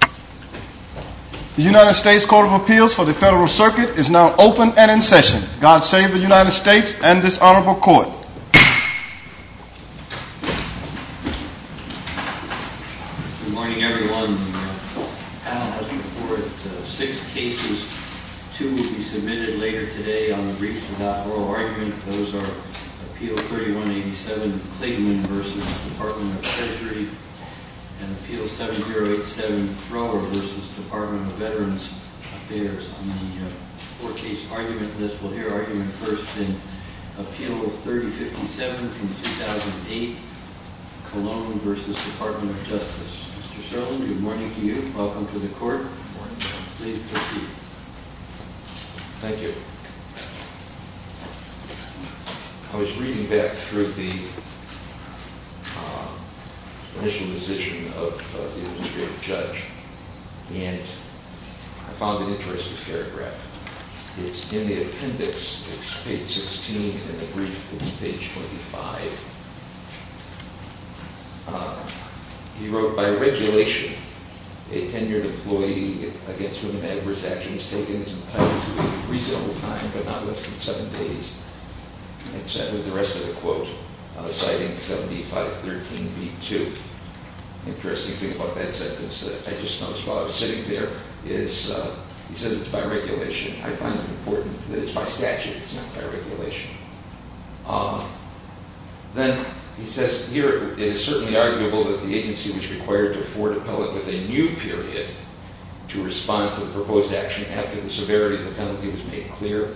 The United States Court of Appeals for the Federal Circuit is now open and in session. God save the United States and this honorable court. Good morning, everyone. We have six cases. Two will be submitted later today on the briefs without oral argument. Those are Appeal 3187 Clayton v. Department of Treasury and Appeal 7087 Thrower v. Department of Veterans Affairs. On the four-case argument list, we'll hear argument first in Appeal 3057 from 2008, Cologne v. Department of Justice. Mr. Sheldon, good morning to you. Welcome to the court. Please proceed. Thank you. I was reading back through the initial decision of the administrative judge, and I found an interesting paragraph. It's in the appendix. It's page 16, and the brief is page 25. He wrote, by regulation, a tenured employee against whom an adverse action is taken is entitled to a reasonable time, but not less than seven days. And so I put the rest of the quote, citing 7513 v. 2. The interesting thing about that sentence that I just noticed while I was sitting there is he says it's by regulation. I find it important that it's by statute. It's not by regulation. Then he says here, it is certainly arguable that the agency was required to afford appellate with a new period to respond to the proposed action after the severity of the penalty was made clear,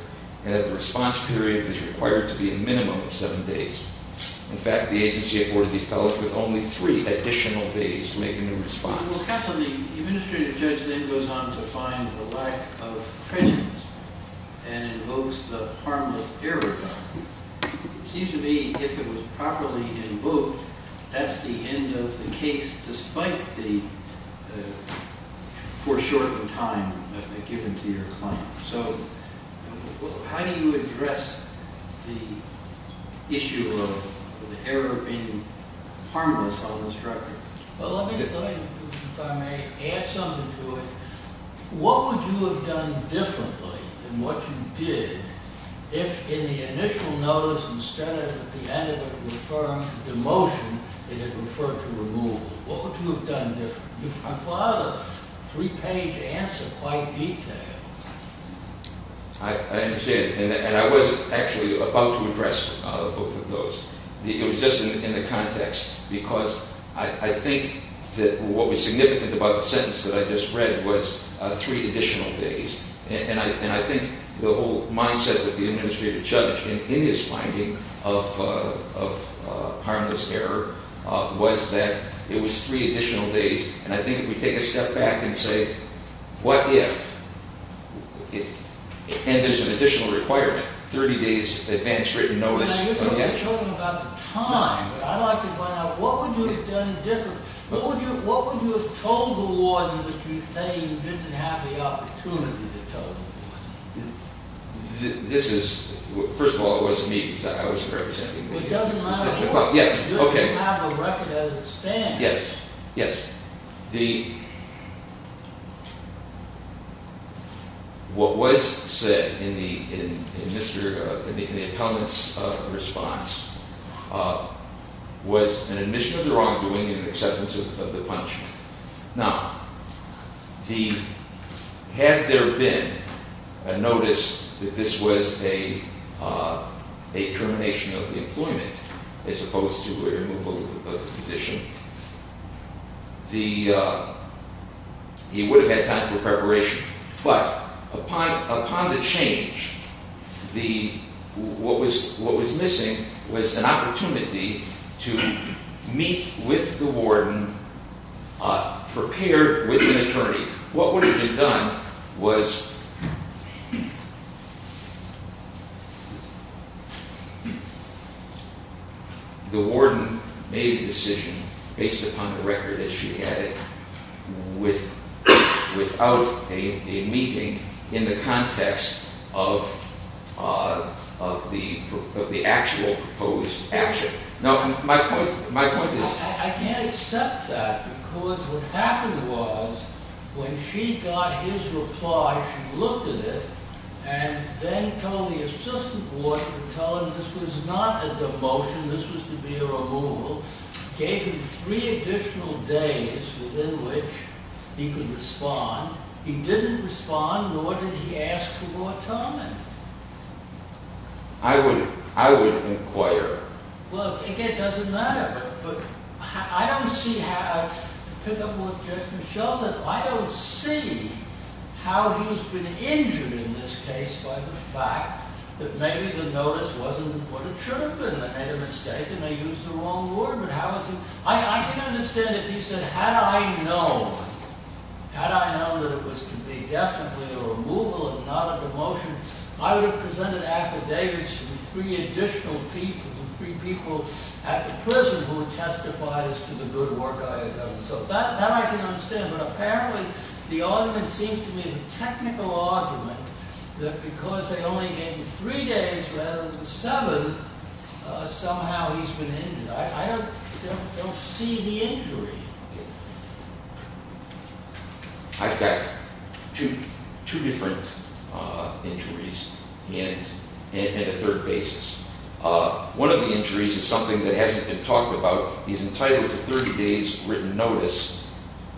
and that the response period is required to be a minimum of seven days. In fact, the agency afforded the appellate with only three additional days to make a new response. Well, counsel, the administrative judge then goes on to find the lack of credence and invokes the harmless error. It seems to me if it was properly invoked, that's the end of the case, despite the foreshortened time that they've given to your client. So how do you address the issue of the error being harmless on this record? Well, let me say, if I may add something to it. What would you have done differently than what you did if in the initial notice, instead of at the end of the motion, it had referred to removal? What would you have done differently? You've got a three-page answer, quite detailed. I understand, and I was actually about to address both of those. It was just in the context, because I think that what was significant about the sentence that I just read was three additional days. And I think the whole mindset of the administrative judge in his finding of harmless error was that it was three additional days. And I think if we take a step back and say, what if, and there's an additional requirement, 30 days advance written notice. You're talking about the time, but I'd like to find out, what would you have done differently? What would you have told the warden that you're saying you didn't have the opportunity to tell the warden? This is, first of all, it wasn't me. I wasn't representing them. It doesn't matter. You don't have a record as it stands. Yes, yes. What was said in the appellant's response was an admission of the wrongdoing and an acceptance of the punishment. Now, had there been a notice that this was a termination of the employment as opposed to a removal of the position, he would have had time for preparation. But upon the change, what was missing was an opportunity to meet with the warden, prepare with an attorney. What would have been done was the warden made a decision based upon the record that she had without a meeting in the context of the actual proposed action. I can't accept that because what happened was when she got his reply, she looked at it and then told the assistant warden to tell him this was not a demotion, this was to be a removal. Gave him three additional days within which he could respond. He didn't respond, nor did he ask for more time. I would inquire. Again, it doesn't matter. I don't see how he's been injured in this case by the fact that maybe the notice wasn't what it should have been. I can understand if he said, had I known that it was to be definitely a removal and not a demotion, I would have presented affidavits to the three additional people, the three people at the prison who testified as to the good work I had done. So that I can understand, but apparently the argument seems to be a technical argument that because they only gave him three days rather than seven, somehow he's been injured. I don't see the injury. I've got two different injuries and a third basis. One of the injuries is something that hasn't been talked about. He's entitled to 30 days written notice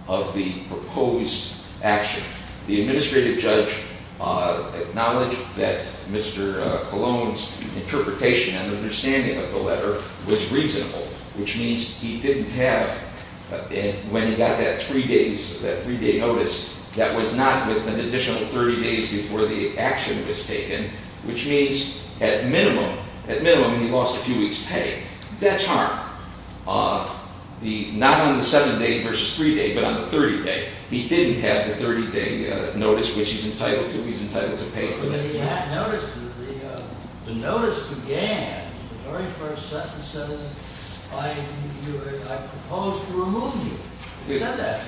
of the proposed action. The administrative judge acknowledged that Mr. Cologne's interpretation and understanding of the letter was reasonable, which means he didn't have, when he got that three days, that three-day notice, that was not with an additional 30 days before the action was taken, which means at minimum, at minimum, he lost a few weeks' pay. That's harm. Not on the seven-day versus three-day, but on the 30-day. He didn't have the 30-day notice, which he's entitled to. He's entitled to pay for that time. But he had notice. The notice began, the very first sentence said, I propose to remove you. It said that,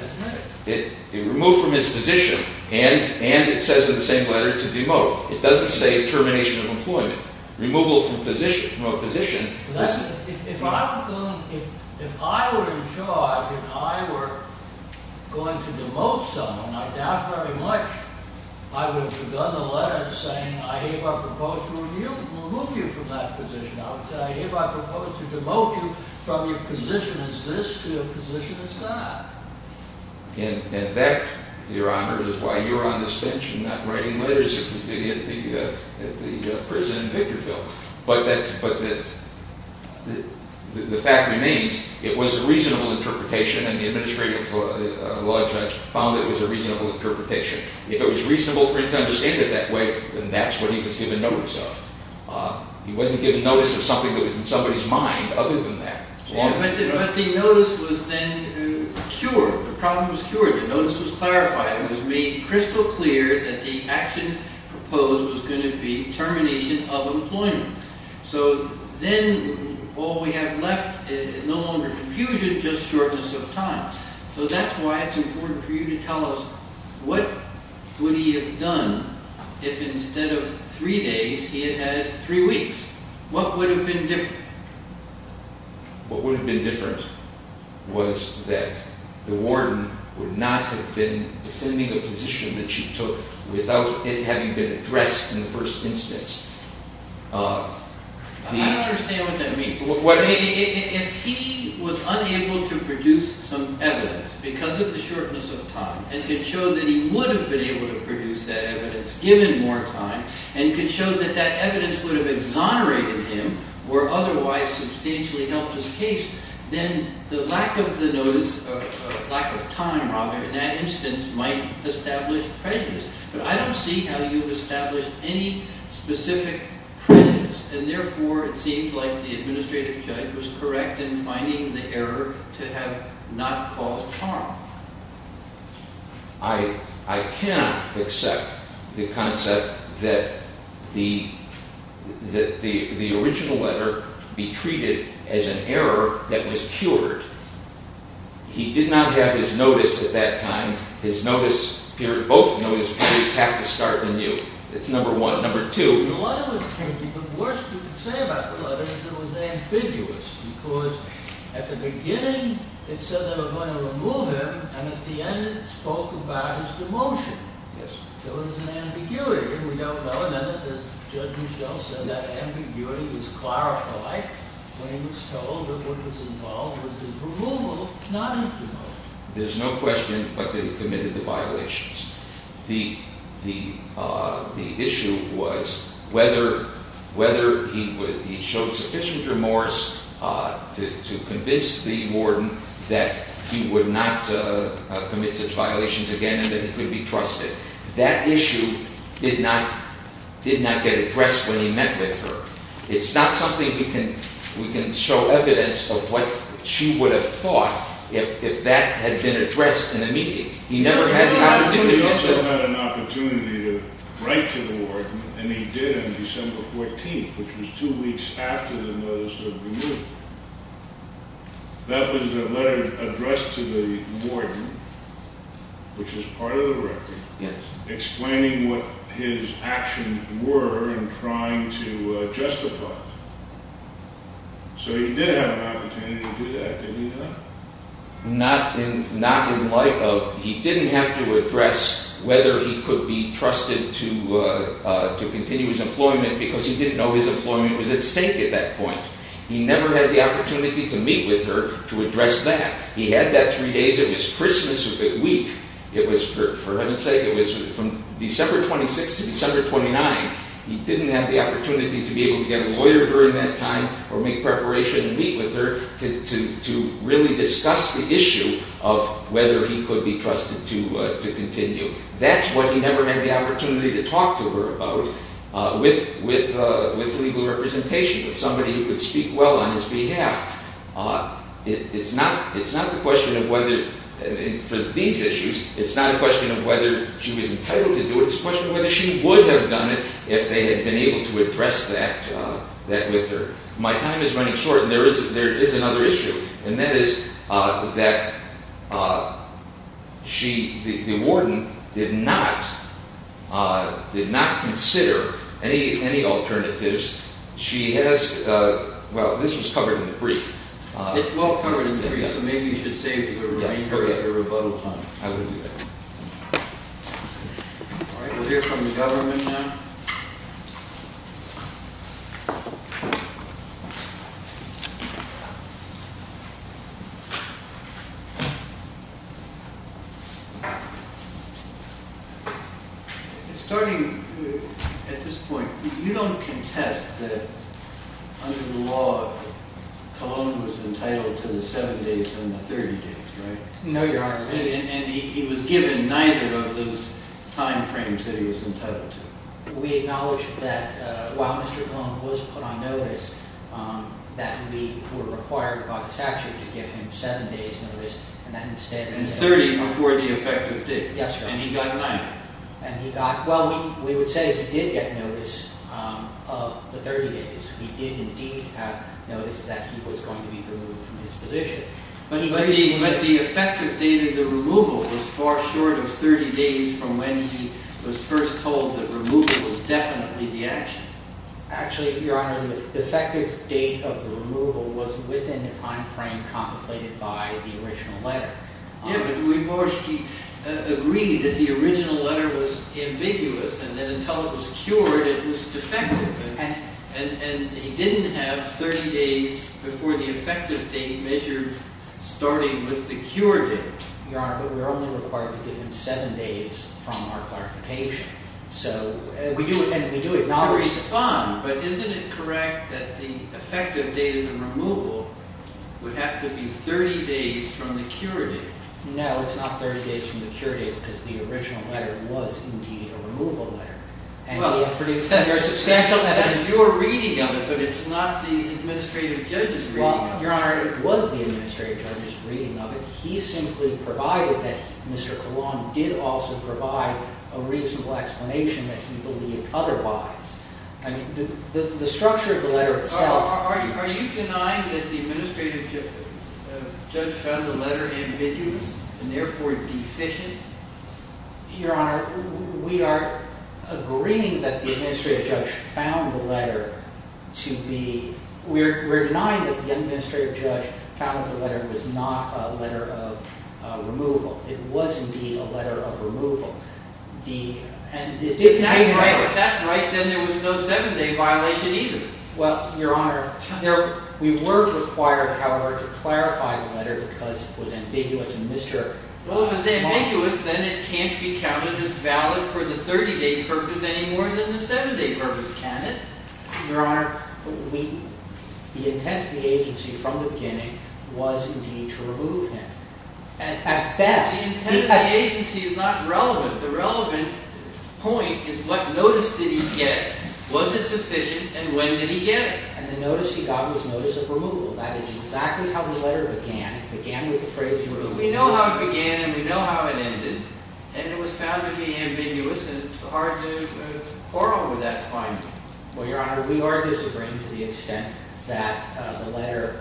didn't it? It removed from its position and it says in the same letter to demote. It doesn't say termination of employment. Removal from position. If I were in charge and I were going to demote someone, I doubt very much I would have begun the letter saying, I hereby propose to remove you from that position. I would say, I hereby propose to demote you from your position as this to your position as that. And that, Your Honor, is why you're on this bench and not writing letters at the prison in Victorville. But the fact remains, it was a reasonable interpretation and the administrative law judge found it was a reasonable interpretation. If it was reasonable for him to understand it that way, then that's what he was given notice of. He wasn't given notice of something that was in somebody's mind other than that. But the notice was then cured. The problem was cured. The notice was clarified. It was made crystal clear that the action proposed was going to be termination of employment. So then all we have left is no longer confusion, just shortness of time. So that's why it's important for you to tell us, what would he have done if instead of three days, he had had three weeks? What would have been different? What would have been different was that the warden would not have been defending the position that she took without it having been addressed in the first instance. I don't understand what that means. If he was unable to produce some evidence because of the shortness of time and could show that he would have been able to produce that evidence given more time and could show that that evidence would have exonerated him or otherwise substantially helped his case, then the lack of time in that instance might establish prejudice. But I don't see how you've established any specific prejudice. And therefore, it seems like the administrative judge was correct in finding the error to have not caused harm. I cannot accept the concept that the original letter be treated as an error that was cured. He did not have his notice at that time. His notice period, both notice periods have to start anew. It's number one. Number two. The worst you can say about the letter is it was ambiguous because at the beginning it said they were going to remove him and at the end it spoke about his demotion. Yes. So it was an ambiguity. We don't know. And then Judge Mischel said that ambiguity was clarified when he was told that what was involved was his removal, not his demotion. There's no question, but they committed the violations. The issue was whether he showed sufficient remorse to convince the warden that he would not commit such violations again and that he could be trusted. That issue did not get addressed when he met with her. It's not something we can show evidence of what she would have thought if that had been addressed in the meeting. He also had an opportunity to write to the warden, and he did on December 14th, which was two weeks after the notice of removal. That was a letter addressed to the warden, which is part of the record, explaining what his actions were in trying to justify it. So he did have an opportunity to do that, didn't he, though? Not in light of he didn't have to address whether he could be trusted to continue his employment because he didn't know his employment was at stake at that point. He never had the opportunity to meet with her to address that. He had that three days of his Christmas week. For heaven's sake, it was from December 26th to December 29th. He didn't have the opportunity to be able to get a lawyer during that time or make preparation to meet with her to really discuss the issue of whether he could be trusted to continue. That's what he never had the opportunity to talk to her about with legal representation, with somebody who could speak well on his behalf. It's not the question of whether, for these issues, it's not a question of whether she was entitled to do it. It's a question of whether she would have done it if they had been able to address that with her. My time is running short, and there is another issue, and that is that the warden did not consider any alternatives. She has—well, this was covered in the brief. It's well covered in the brief, so maybe you should save the remainder of your rebuttal time. I will do that. All right, we'll hear from the government now. Starting at this point, you don't contest that under the law, Cologne was entitled to the seven days and the 30 days, right? No, Your Honor. And he was given neither of those timeframes that he was entitled to. We acknowledge that while Mr. Cologne was put on notice, that we were required by the statute to give him seven days notice, and that instead— And 30 before the effective date. Yes, Your Honor. And he got nine. And he got—well, we would say he did get notice of the 30 days. He did indeed have notice that he was going to be removed from his position. But the effective date of the removal was far short of 30 days from when he was first told that removal was definitely the action. Actually, Your Honor, the effective date of the removal was within the timeframe contemplated by the original letter. Yes, but Du Bois, he agreed that the original letter was ambiguous and that until it was cured, it was defective. And he didn't have 30 days before the effective date measured starting with the cure date. Your Honor, but we were only required to give him seven days from our clarification. So— And we do acknowledge— No, it's not 30 days from the cure date because the original letter was indeed a removal letter. And we have produced substantial evidence— Well, that's your reading of it, but it's not the administrative judge's reading of it. Well, Your Honor, it was the administrative judge's reading of it. He simply provided that Mr. Cologne did also provide a reasonable explanation that he believed otherwise. I mean, the structure of the letter itself— Are you denying that the administrative judge found the letter ambiguous and therefore deficient? Your Honor, we are agreeing that the administrative judge found the letter to be— We're denying that the administrative judge found the letter was not a letter of removal. It was indeed a letter of removal. If that's right, then there was no seven-day violation either. Well, Your Honor, we were required, however, to clarify the letter because it was ambiguous and Mr. Cologne— Well, if it's ambiguous, then it can't be counted as valid for the 30-day purpose any more than the seven-day purpose, can it? Your Honor, the intent of the agency from the beginning was indeed to remove him. At best— The intent of the agency is not relevant. The relevant point is what notice did he get, was it sufficient, and when did he get it? And the notice he got was notice of removal. That is exactly how the letter began. It began with the phrase— But we know how it began and we know how it ended, and it was found to be ambiguous, and it's hard to quarrel with that finding. Well, Your Honor, we are disagreeing to the extent that the letter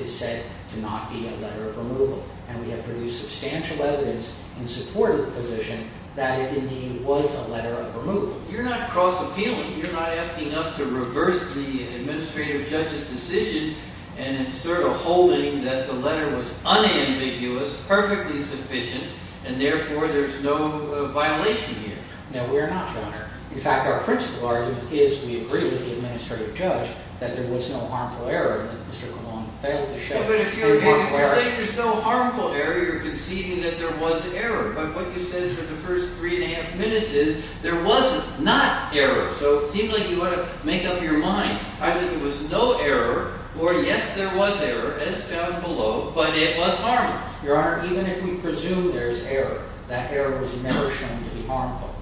is said to not be a letter of removal. And we have produced substantial evidence in support of the position that it indeed was a letter of removal. You're not cross-appealing. You're not asking us to reverse the administrative judge's decision and sort of holding that the letter was unambiguous, perfectly sufficient, and therefore there's no violation here. No, we are not, Your Honor. In fact, our principal argument is we agree with the administrative judge that there was no harmful error that Mr. Cologne failed to show. But if you're saying there's no harmful error, you're conceding that there was error. But what you said for the first three and a half minutes is there was not error. So it seems like you want to make up your mind. Either there was no error or, yes, there was error, as down below, but it was harmful. Your Honor, even if we presume there is error, that error was never shown to be harmful.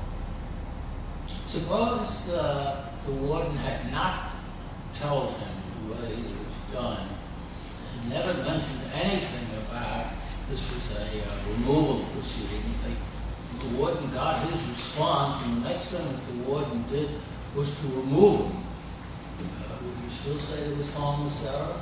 Suppose the warden had not told him the way it was done and never mentioned anything about this was a removal proceeding. The warden got his response, and the next thing the warden did was to remove him. Would you still say there was harmless error?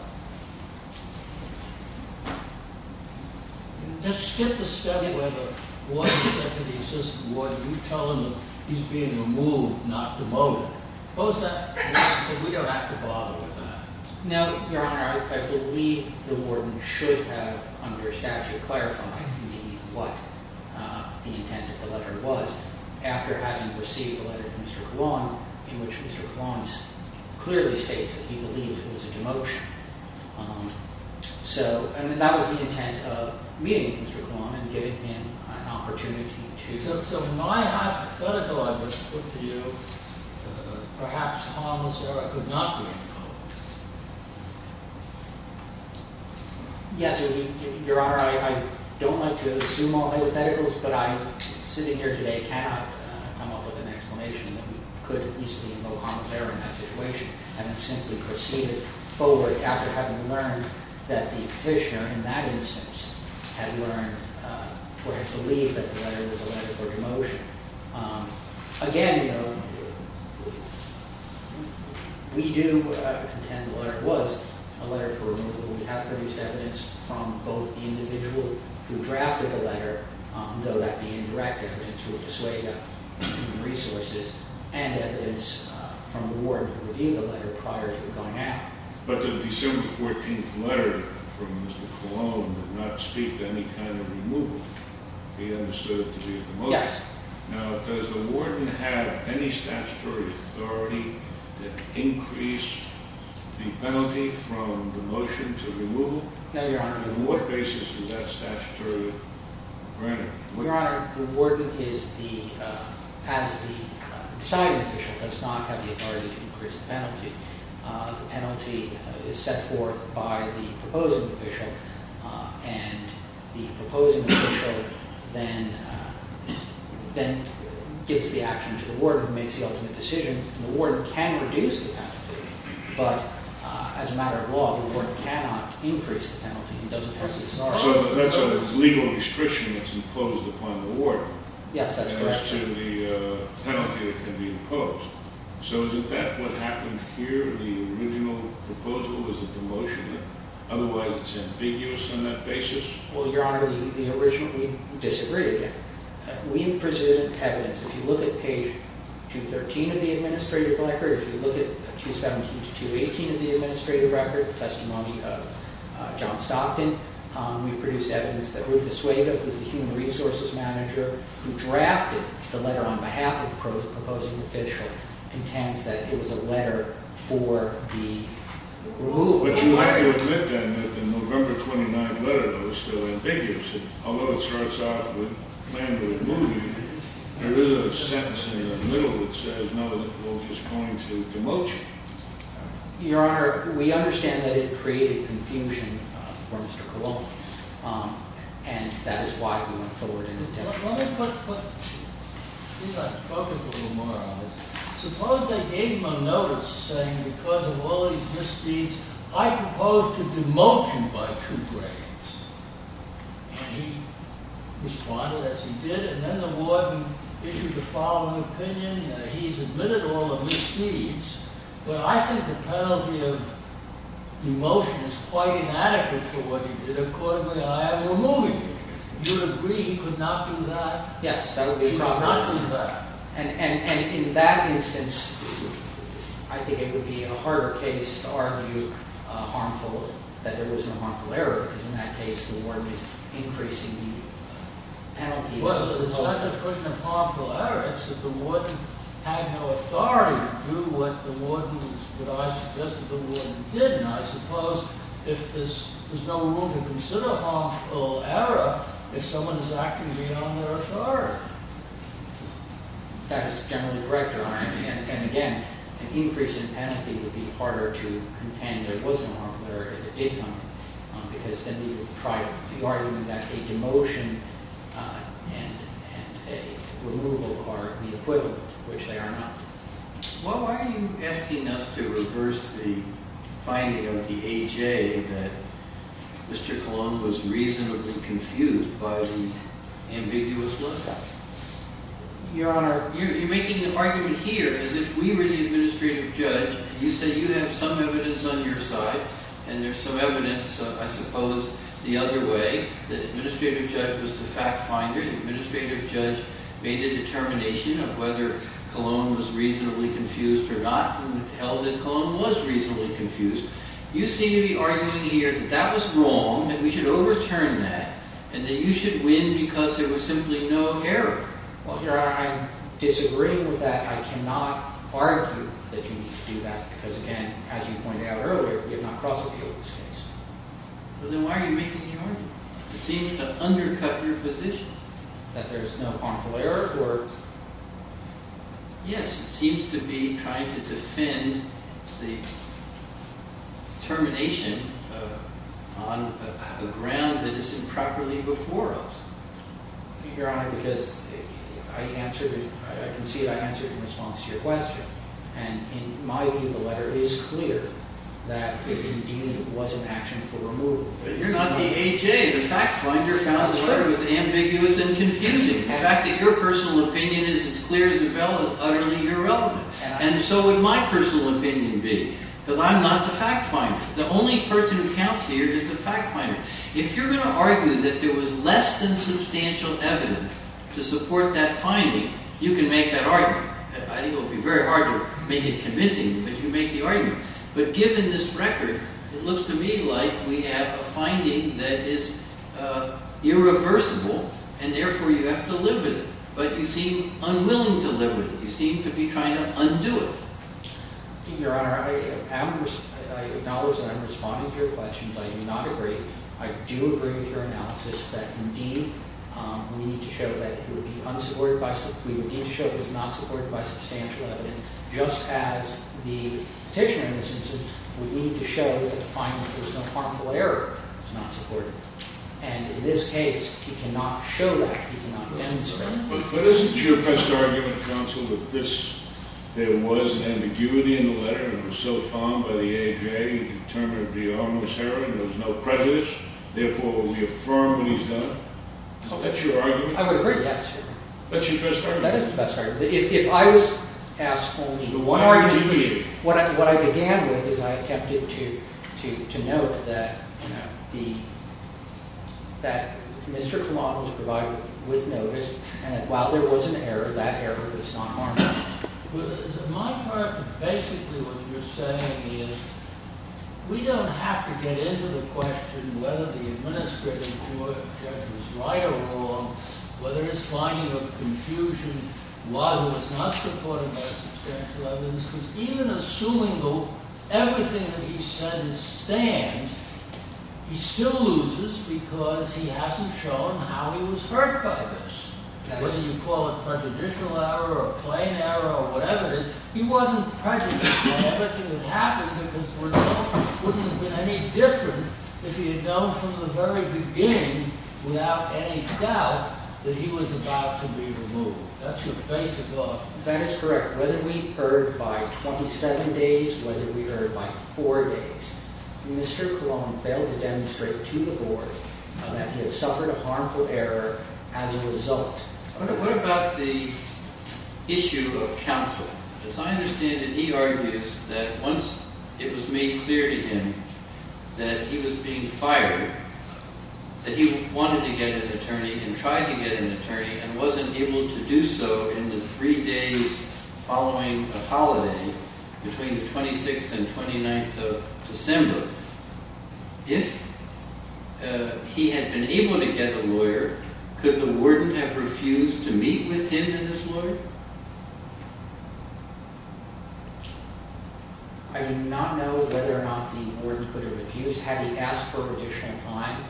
Just skip the study where the warden said to the assistant warden, you tell him that he's being removed, not demoted. Suppose that we don't have to bother with that. No, Your Honor. I believe the warden should have, under statute, clarified to me what the intent of the letter was after having received the letter from Mr. Cologne, in which Mr. Cologne clearly states that he believed it was a demotion. So that was the intent of meeting Mr. Cologne and giving him an opportunity to… So my hypothetical I would put to you, perhaps harmless error could not be invoked. Yes, Your Honor, I don't like to assume all hypotheticals, but I, sitting here today, cannot come up with an explanation that we could at least invoke harmless error in that situation, having simply proceeded forward after having learned that the petitioner, in that instance, had learned or had believed that the letter was a letter for demotion. Again, we do contend the letter was a letter for removal. We have produced evidence from both the individual who drafted the letter, though that being indirect evidence would dissuade us from resources, and evidence from the warden who reviewed the letter prior to it going out. But the December 14th letter from Mr. Cologne did not speak to any kind of removal. He understood it to be a demotion. Yes. Now, does the warden have any statutory authority to increase the penalty from demotion to removal? No, Your Honor. On what basis is that statutory granted? Your Honor, the warden is the – as the deciding official does not have the authority to increase the penalty. The penalty is set forth by the proposing official, and the proposing official then gives the action to the warden who makes the ultimate decision. The warden can reduce the penalty, but as a matter of law, the warden cannot increase the penalty. He doesn't have the authority. So that's a legal restriction that's imposed upon the warden. Yes, that's correct. As to the penalty that can be imposed. So is that what happened here, the original proposal? Was it demotioned? Otherwise, it's ambiguous on that basis? Well, Your Honor, the original – we disagreed again. We presented evidence. If you look at page 213 of the administrative record, if you look at 217 to 218 of the administrative record, the testimony of John Stockton, we produced evidence that Ruth Asuega, who's the human resources manager, who drafted the letter on behalf of the proposing official, contends that it was a letter for the removed. But you have to admit, then, that the November 29th letter, though, is still ambiguous. Although it starts off with, plan to remove me, there is a sentence in the middle that says, no, it was pointing to demotion. Your Honor, we understand that it created confusion for Mr. Colon, and that is why we went forward in the testimony. Let me put – see if I can focus a little more on this. Suppose they gave him a notice saying, because of all these misdeeds, I propose to demote you by two grades. And he responded as he did, and then the warden issued the following opinion. He's admitted all the misdeeds, but I think the penalty of demotion is quite inadequate for what he did. Accordingly, I am removing you. You would agree he could not do that? Yes, that would be proper. He should not do that. And in that instance, I think it would be a harder case to argue harmful – that there was no harmful error, because in that case, the warden is increasing the penalty. Well, it's not a question of harmful error. It's that the warden had no authority to do what the warden – what I suggested the warden did. And I suppose there's no room to consider harmful error if someone is acting beyond their authority. That is generally correct, Your Honor. And again, an increase in penalty would be harder to contend there was a harmful error if it did come, because then we would try to argue that a demotion and a removal are the equivalent, which they are not. Well, why are you asking us to reverse the finding of the A.J. that Mr. Colon was reasonably confused by the ambiguous lookout? Your Honor, you're making an argument here as if we were the administrative judge. You say you have some evidence on your side, and there's some evidence, I suppose, the other way. The administrative judge was the fact finder. The administrative judge made the determination of whether Colon was reasonably confused or not, and held that Colon was reasonably confused. You seem to be arguing here that that was wrong, that we should overturn that, and that you should win because there was simply no error. Well, Your Honor, I disagree with that. I cannot argue that you need to do that, because again, as you pointed out earlier, we have not crossed the field in this case. So then why are you making the argument? It seems to undercut your position that there's no harmful error. Yes, it seems to be trying to defend the determination on the ground that is improperly before us. Your Honor, because I can see that I answered in response to your question, and in my view, the letter is clear that it indeed was an action for removal. But you're not the A.J. The fact finder found the letter was ambiguous and confusing. The fact that your personal opinion is as clear as a bell is utterly irrelevant. And so would my personal opinion be, because I'm not the fact finder. The only person who counts here is the fact finder. If you're going to argue that there was less than substantial evidence to support that finding, you can make that argument. I think it will be very hard to make it convincing that you make the argument. But given this record, it looks to me like we have a finding that is irreversible, and therefore you have to live with it. But you seem unwilling to live with it. You seem to be trying to undo it. Your Honor, I acknowledge that I'm responding to your questions. I do not agree. I do agree with your analysis that, indeed, we need to show that it was not supported by substantial evidence, just as the petitioner in this instance would need to show that the finding that there was no harmful error was not supported. And in this case, he cannot show that. He cannot demonstrate that. But isn't your best argument, counsel, that there was an ambiguity in the letter and it was so fond by the A.J. that he determined it would be an ominous error and there was no prejudice, therefore it will be affirmed when he's done it? That's your argument? I would agree, yes. That's your best argument? That is the best argument. If I was asked only one question, what I began with is I attempted to note that Mr. Kalam was provided with notice and that while there was an error, that error was not harmful. Well, is it my part that basically what you're saying is we don't have to get into the question whether the administrative court judges right or wrong, whether it's finding of confusion, whether it's not supported by substantial evidence. Because even assuming everything that he says stands, he still loses because he hasn't shown how he was hurt by this. Whether you call it prejudicial error or plain error or whatever it is, he wasn't prejudiced that everything that happened wouldn't have been any different if he had known from the very beginning without any doubt that he was about to be removed. That's your basic law. That is correct. Whether we heard by 27 days, whether we heard by four days, Mr. Kalam failed to demonstrate to the board that he had suffered a harmful error as a result. What about the issue of counsel? As I understand it, he argues that once it was made clear to him that he was being fired, that he wanted to get an attorney and tried to get an attorney and wasn't able to do so in the three days following a holiday between the 26th and 29th of December. If he had been able to get a lawyer, could the warden have refused to meet with him and his lawyer? I do not know whether or not the warden could have refused. Had he asked for an additional time?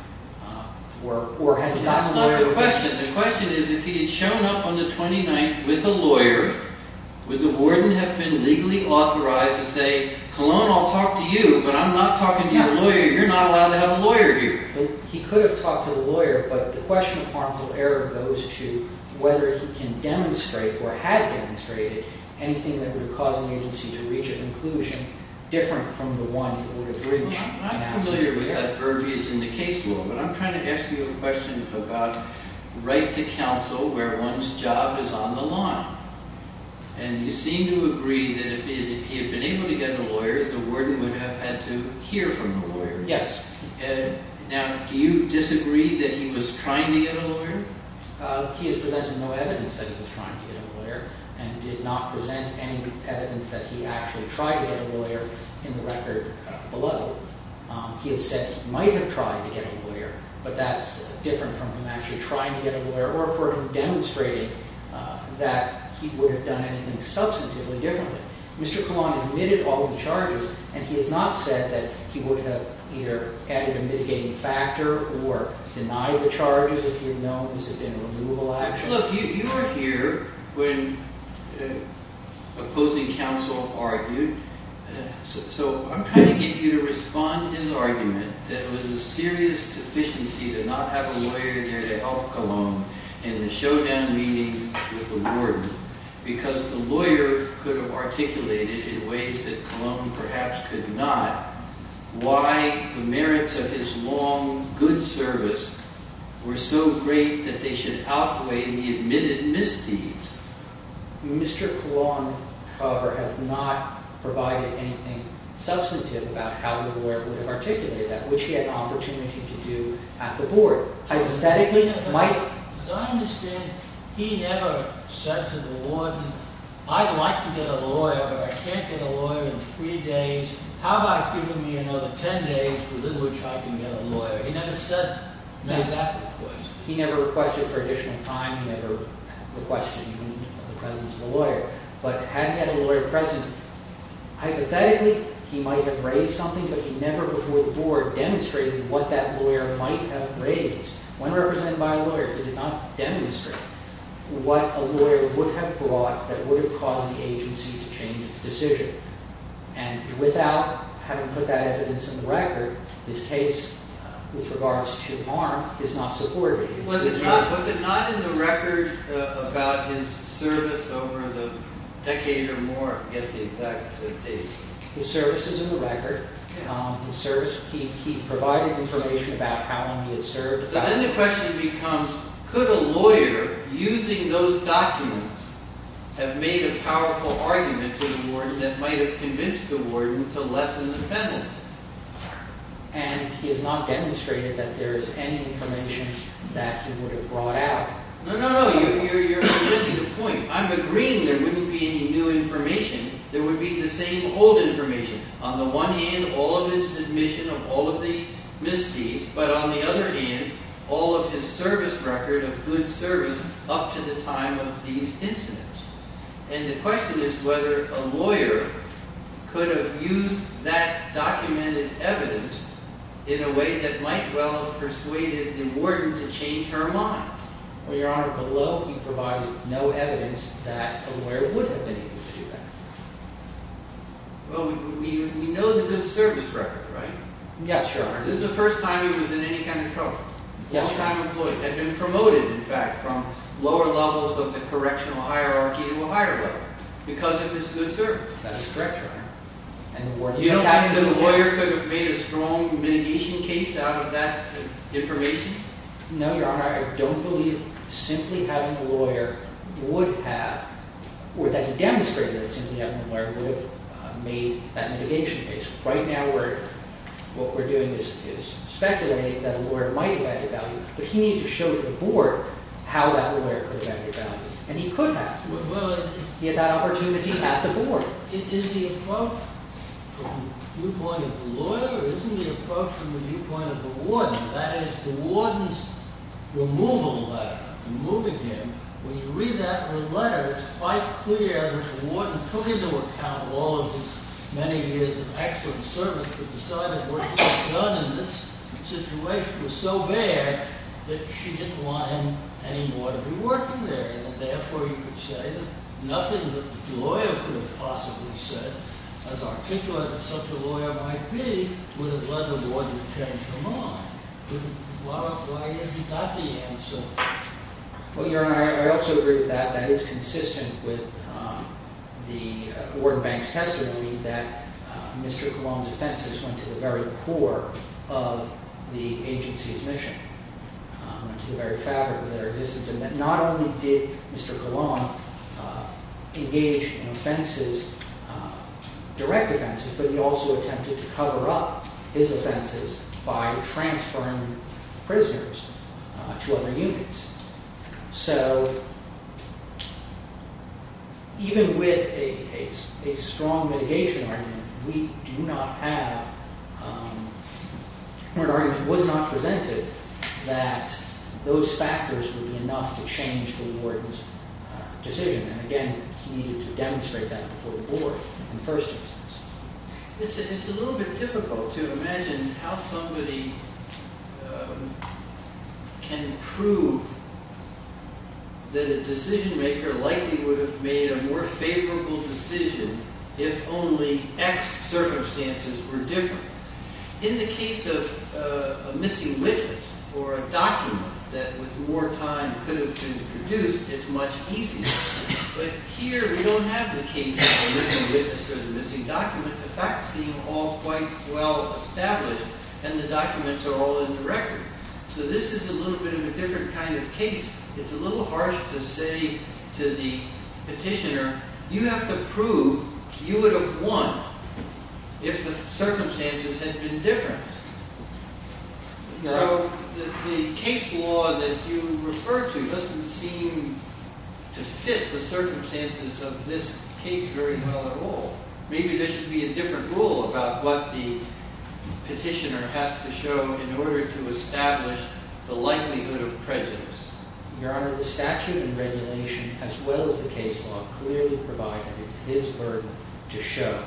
That's not the question. The question is if he had shown up on the 29th with a lawyer, would the warden have been legally authorized to say, Cologne, I'll talk to you, but I'm not talking to your lawyer. You're not allowed to have a lawyer here. He could have talked to the lawyer, but the question of harmful error goes to whether he can demonstrate or had demonstrated anything that would have caused the agency to reach a conclusion different from the one it would have reached. I'm not familiar with that verbiage in the case law, but I'm trying to ask you a question about right to counsel where one's job is on the line. And you seem to agree that if he had been able to get a lawyer, the warden would have had to hear from the lawyer. Yes. Now, do you disagree that he was trying to get a lawyer? He has presented no evidence that he was trying to get a lawyer and did not present any evidence that he actually tried to get a lawyer in the record below. He has said he might have tried to get a lawyer, but that's different from him actually trying to get a lawyer or for him demonstrating that he would have done anything substantively differently. Mr. Cologne admitted all the charges, and he has not said that he would have either added a mitigating factor or denied the charges if he had known this had been a removable action. Look, you were here when opposing counsel argued. So I'm trying to get you to respond to his argument that it was a serious deficiency to not have a lawyer there to help Cologne in the showdown meeting with the warden because the lawyer could have articulated in ways that Cologne perhaps could not why the merits of his long, good service were so great that they should outweigh the admitted misdeeds. Mr. Cologne, however, has not provided anything substantive about how the lawyer would have articulated that, which he had an opportunity to do at the board. Hypothetically, Mike? As I understand it, he never said to the warden, I'd like to get a lawyer, but I can't get a lawyer in three days. How about giving me another ten days within which I can get a lawyer? He never said that. He never requested for additional time. He never requested even the presence of a lawyer. But had he had a lawyer present, hypothetically, he might have raised something, but he never before the board demonstrated what that lawyer might have raised. When represented by a lawyer, he did not demonstrate what a lawyer would have brought that would have caused the agency to change its decision. Without having put that evidence in the record, his case with regards to harm is not supported. Was it not in the record about his service over the decade or more? I forget the exact date. His service is in the record. He provided information about how long he had served. Then the question becomes, could a lawyer using those documents have made a powerful argument to the warden that might have convinced the warden to lessen the penalty? And he has not demonstrated that there is any information that he would have brought out. No, no, no, you're missing the point. I'm agreeing there wouldn't be any new information. There would be the same old information. On the one hand, all of his admission of all of the misdeeds, but on the other hand, all of his service record of good service up to the time of these incidents. And the question is whether a lawyer could have used that documented evidence in a way that might well have persuaded the warden to change her mind. Well, Your Honor, below he provided no evidence that a lawyer would have been able to do that. Well, we know the good service record, right? Yes, Your Honor. This is the first time he was in any kind of trouble. First time employed. Had been promoted, in fact, from lower levels of the correctional hierarchy to a higher level because of his good service. That's correct, Your Honor. You don't think that a lawyer could have made a strong mitigation case out of that information? No, Your Honor, I don't believe simply having a lawyer would have, or that he demonstrated that simply having a lawyer would have made that mitigation case. Right now what we're doing is speculating that a lawyer might have had the value, but he needed to show to the board how that lawyer could have had the value, and he could have. He had that opportunity at the board. Is the approach from the viewpoint of the lawyer, or is it the approach from the viewpoint of the warden? That is the warden's removal letter, removing him. When you read that letter, it's quite clear the warden took into account all of his many years of excellent service, but decided what he had done in this situation was so bad that she didn't want him anymore to be working there, and therefore you could say that nothing that the lawyer could have possibly said as articulate as such a lawyer might be would have led the warden to change her mind. Why isn't that the answer? Well, Your Honor, I also agree with that. That is consistent with the warden bank's testimony that Mr. Coulomb's offenses went to the very core of the agency's mission, went to the very fabric of their existence, and that not only did Mr. Coulomb engage in offenses, direct offenses, but he also attempted to cover up his offenses by transferring prisoners to other units. So even with a strong mitigation argument, we do not have an argument that was not presented that those factors would be enough to change the warden's decision. And again, he needed to demonstrate that before the board in the first instance. It's a little bit difficult to imagine how somebody can prove that a decision-maker likely would have made a more favorable decision if only X circumstances were different. In the case of a missing witness or a document that with more time could have been produced, it's much easier. But here we don't have the case of the missing witness or the missing document. The facts seem all quite well established, and the documents are all in the record. So this is a little bit of a different kind of case. It's a little harsh to say to the petitioner, you have to prove you would have won if the circumstances had been different. So the case law that you refer to doesn't seem to fit the circumstances of this case very well at all. Maybe there should be a different rule about what the petitioner has to show in order to establish the likelihood of prejudice. Your Honor, the statute and regulation, as well as the case law, clearly provide that it is his burden to show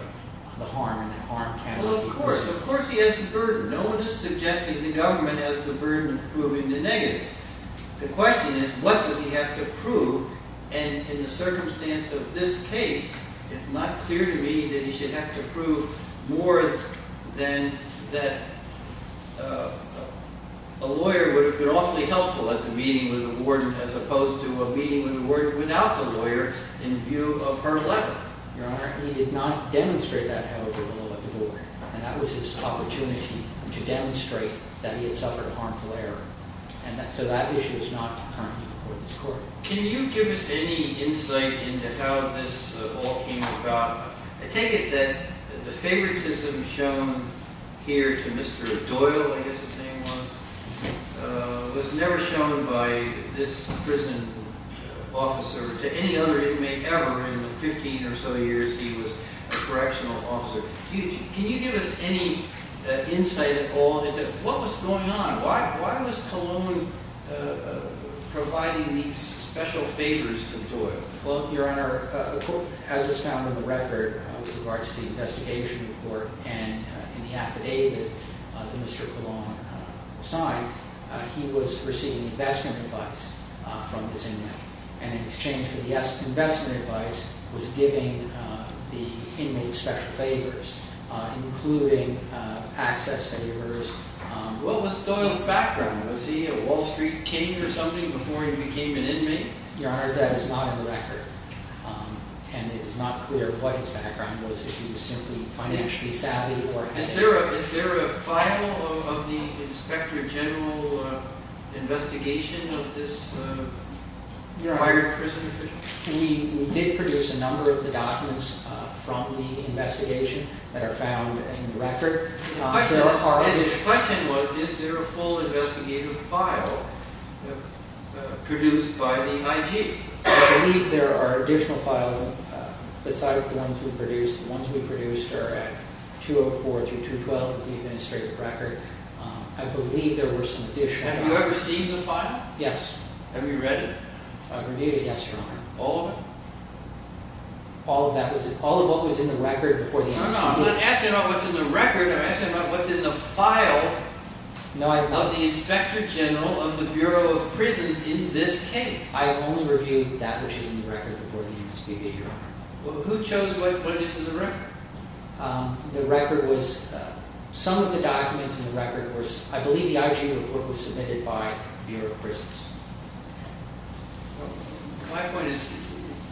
the harm and the harm cannot be avoided. Well, of course. Of course he has the burden. No one is suggesting the government has the burden of proving the negative. The question is, what does he have to prove? And in the circumstance of this case, it's not clear to me that he should have to prove more than that a lawyer would have been awfully helpful at the meeting with a warden as opposed to a meeting with a warden without the lawyer in view of her letter. Your Honor, he did not demonstrate that, however, below the board. And that was his opportunity to demonstrate that he had suffered harmful error. And so that issue is not currently before this court. Can you give us any insight into how this all came about? I take it that the favoritism shown here to Mr. Doyle, I guess his name was, was never shown by this prison officer to any other inmate ever in the 15 or so years he was a correctional officer. Can you give us any insight at all into what was going on? Why was Cologne providing these special favors to Doyle? Well, Your Honor, as is found in the record with regards to the investigation report and in the affidavit that Mr. Cologne signed, he was receiving investment advice from this inmate. And in exchange for the investment advice, was giving the inmate special favors, including access favors. What was Doyle's background? Was he a Wall Street king or something before he became an inmate? Your Honor, that is not in the record. And it is not clear what his background was. If he was simply financially savvy or... Is there a file of the Inspector General investigation of this? Your Honor, we did produce a number of the documents from the investigation that are found in the record. The question was, is there a full investigative file produced by the IG? I believe there are additional files besides the ones we produced. The ones we produced are at 204 through 212 of the administrative record. I believe there were some additional... Have you ever seen the file? Yes. Have you read it? I've reviewed it, yes, Your Honor. All of it? All of what was in the record before the... No, no, I'm not asking about what's in the record. I'm asking about what's in the file of the Inspector General of the Bureau of Prisons in this case. I've only reviewed that which is in the record before the NSPB, Your Honor. Well, who chose what went into the record? The record was... Some of the documents in the record were... My point is,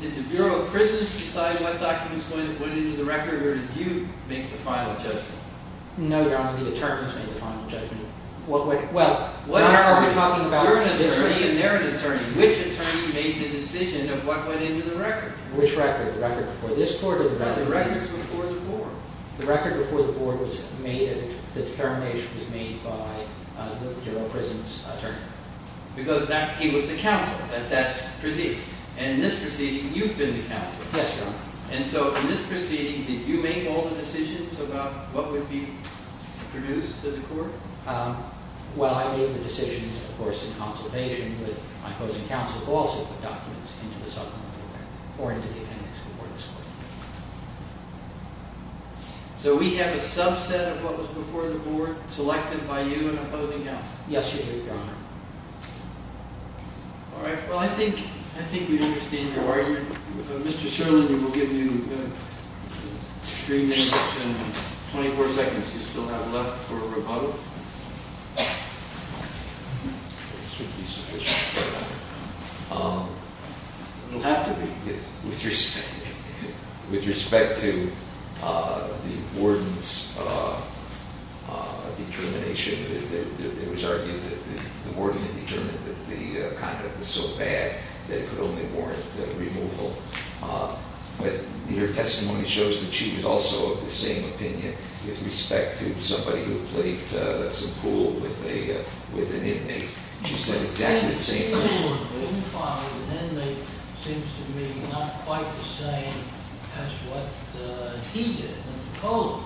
did the Bureau of Prisons decide what documents went into the record or did you make the final judgment? No, Your Honor. The attorneys made the final judgment. Well, what are we talking about? You're an attorney and they're an attorney. Which attorney made the decision of what went into the record? Which record? The record before this court or the record before this court? The record before the board. The record before the board was made and the determination was made by the Bureau of Prisons attorney. Because he was the counsel at that proceeding. And in this proceeding, you've been the counsel. Yes, Your Honor. And so in this proceeding, did you make all the decisions about what would be produced to the court? Well, I made the decisions, of course, in conservation with my opposing counsel who also put documents into the supplemental record or into the appendix before this court. So we have a subset of what was before the board selected by you and opposing counsel? Yes, you do, Your Honor. All right. Well, I think we understand your argument. Mr. Sherman, we will give you three minutes and 24 seconds. You still have left for rebuttal. It shouldn't be sufficient, Your Honor. It'll have to be with respect to the warden's determination. It was argued that the warden had determined that the conduct was so bad that it could only warrant removal. But your testimony shows that she was also of the same opinion with respect to somebody who played some pool with an inmate. She said exactly the same thing. The inmate seems to me not quite the same as what he did in the cold.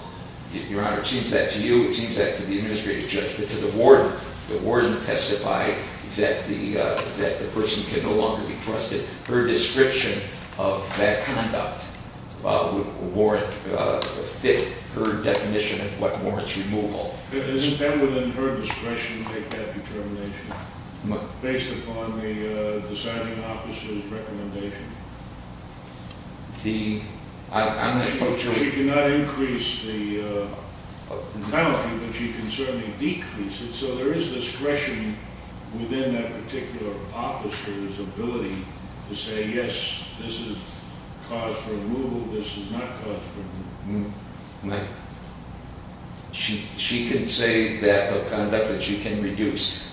Your Honor, it seems that to you. It seems that to the administrative judge. But to the warden, the warden testified that the person can no longer be trusted. Her description of that conduct would warrant, fit her definition of what warrants removal. It is then within her discretion to make that determination based upon the deciding officer's recommendation. We cannot increase the penalty, but you can certainly decrease it. So there is discretion within that particular officer's ability to say, yes, this is cause for removal, this is not cause for removal. She can say that of conduct that she can reduce.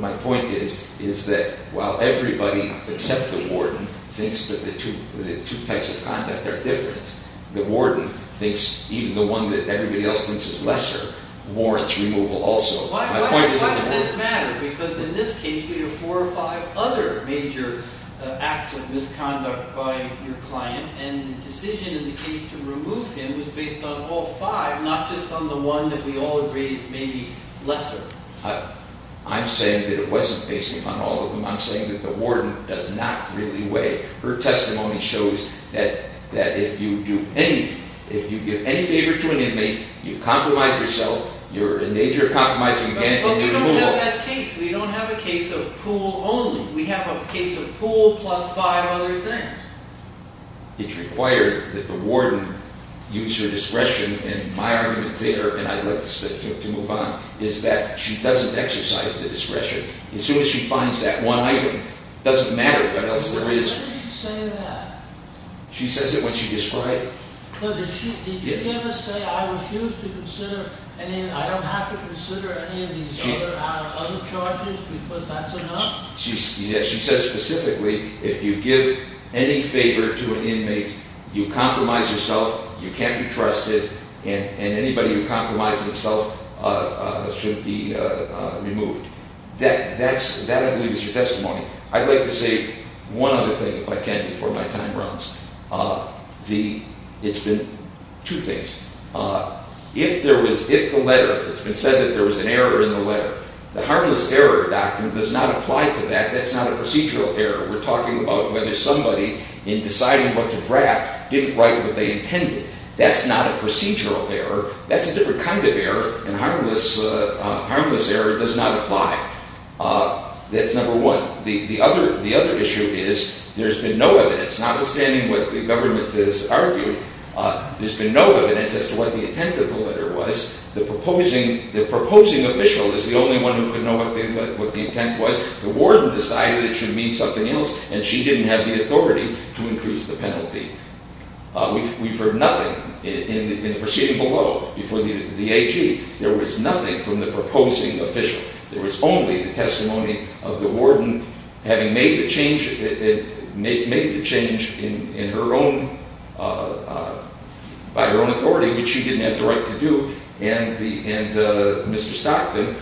My point is that while everybody except the warden thinks that the two types of conduct are different, the warden thinks even the one that everybody else thinks is lesser warrants removal also. Why does that matter? Because in this case, we have four or five other major acts of misconduct by your client. And the decision in the case to remove him was based on all five, not just on the one that we all agree is maybe lesser. I'm saying that it wasn't based upon all of them. I'm saying that the warden does not really weigh. Her testimony shows that if you do any, if you give any favor to an inmate, you've compromised yourself. You're in danger of compromising again. But we don't have that case. We don't have a case of pool only. We have a case of pool plus five other things. It's required that the warden use her discretion in my argument there, and I'd like to move on. It's that she doesn't exercise the discretion. As soon as she finds that one item, it doesn't matter what else there is. Why did she say that? She says it when she described it. Did she ever say, I refuse to consider, I don't have to consider any of these other charges because that's enough? She says specifically, if you give any favor to an inmate, you compromise yourself, you can't be trusted, and anybody who compromises himself should be removed. That, I believe, is your testimony. I'd like to say one other thing, if I can, before my time runs. It's been two things. If there was, if the letter, it's been said that there was an error in the letter. The harmless error doctrine does not apply to that. That's not a procedural error. We're talking about whether somebody, in deciding what to draft, didn't write what they intended. That's not a procedural error. That's a different kind of error, and harmless error does not apply. That's number one. The other issue is, there's been no evidence, notwithstanding what the government has argued, there's been no evidence as to what the intent of the letter was. The proposing official is the only one who could know what the intent was. The warden decided it should mean something else, and she didn't have the authority to increase the penalty. We've heard nothing in the proceeding below, before the AG. There was nothing from the proposing official. There was only the testimony of the warden, having made the change in her own, by her own authority, which she didn't have the right to do, and Mr. Stockton,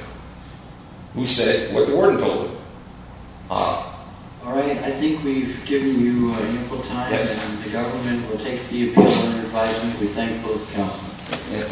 who said what the warden told her. All right, I think we've given you ample time, and the government will take the appeal under advisement. We thank you for those comments.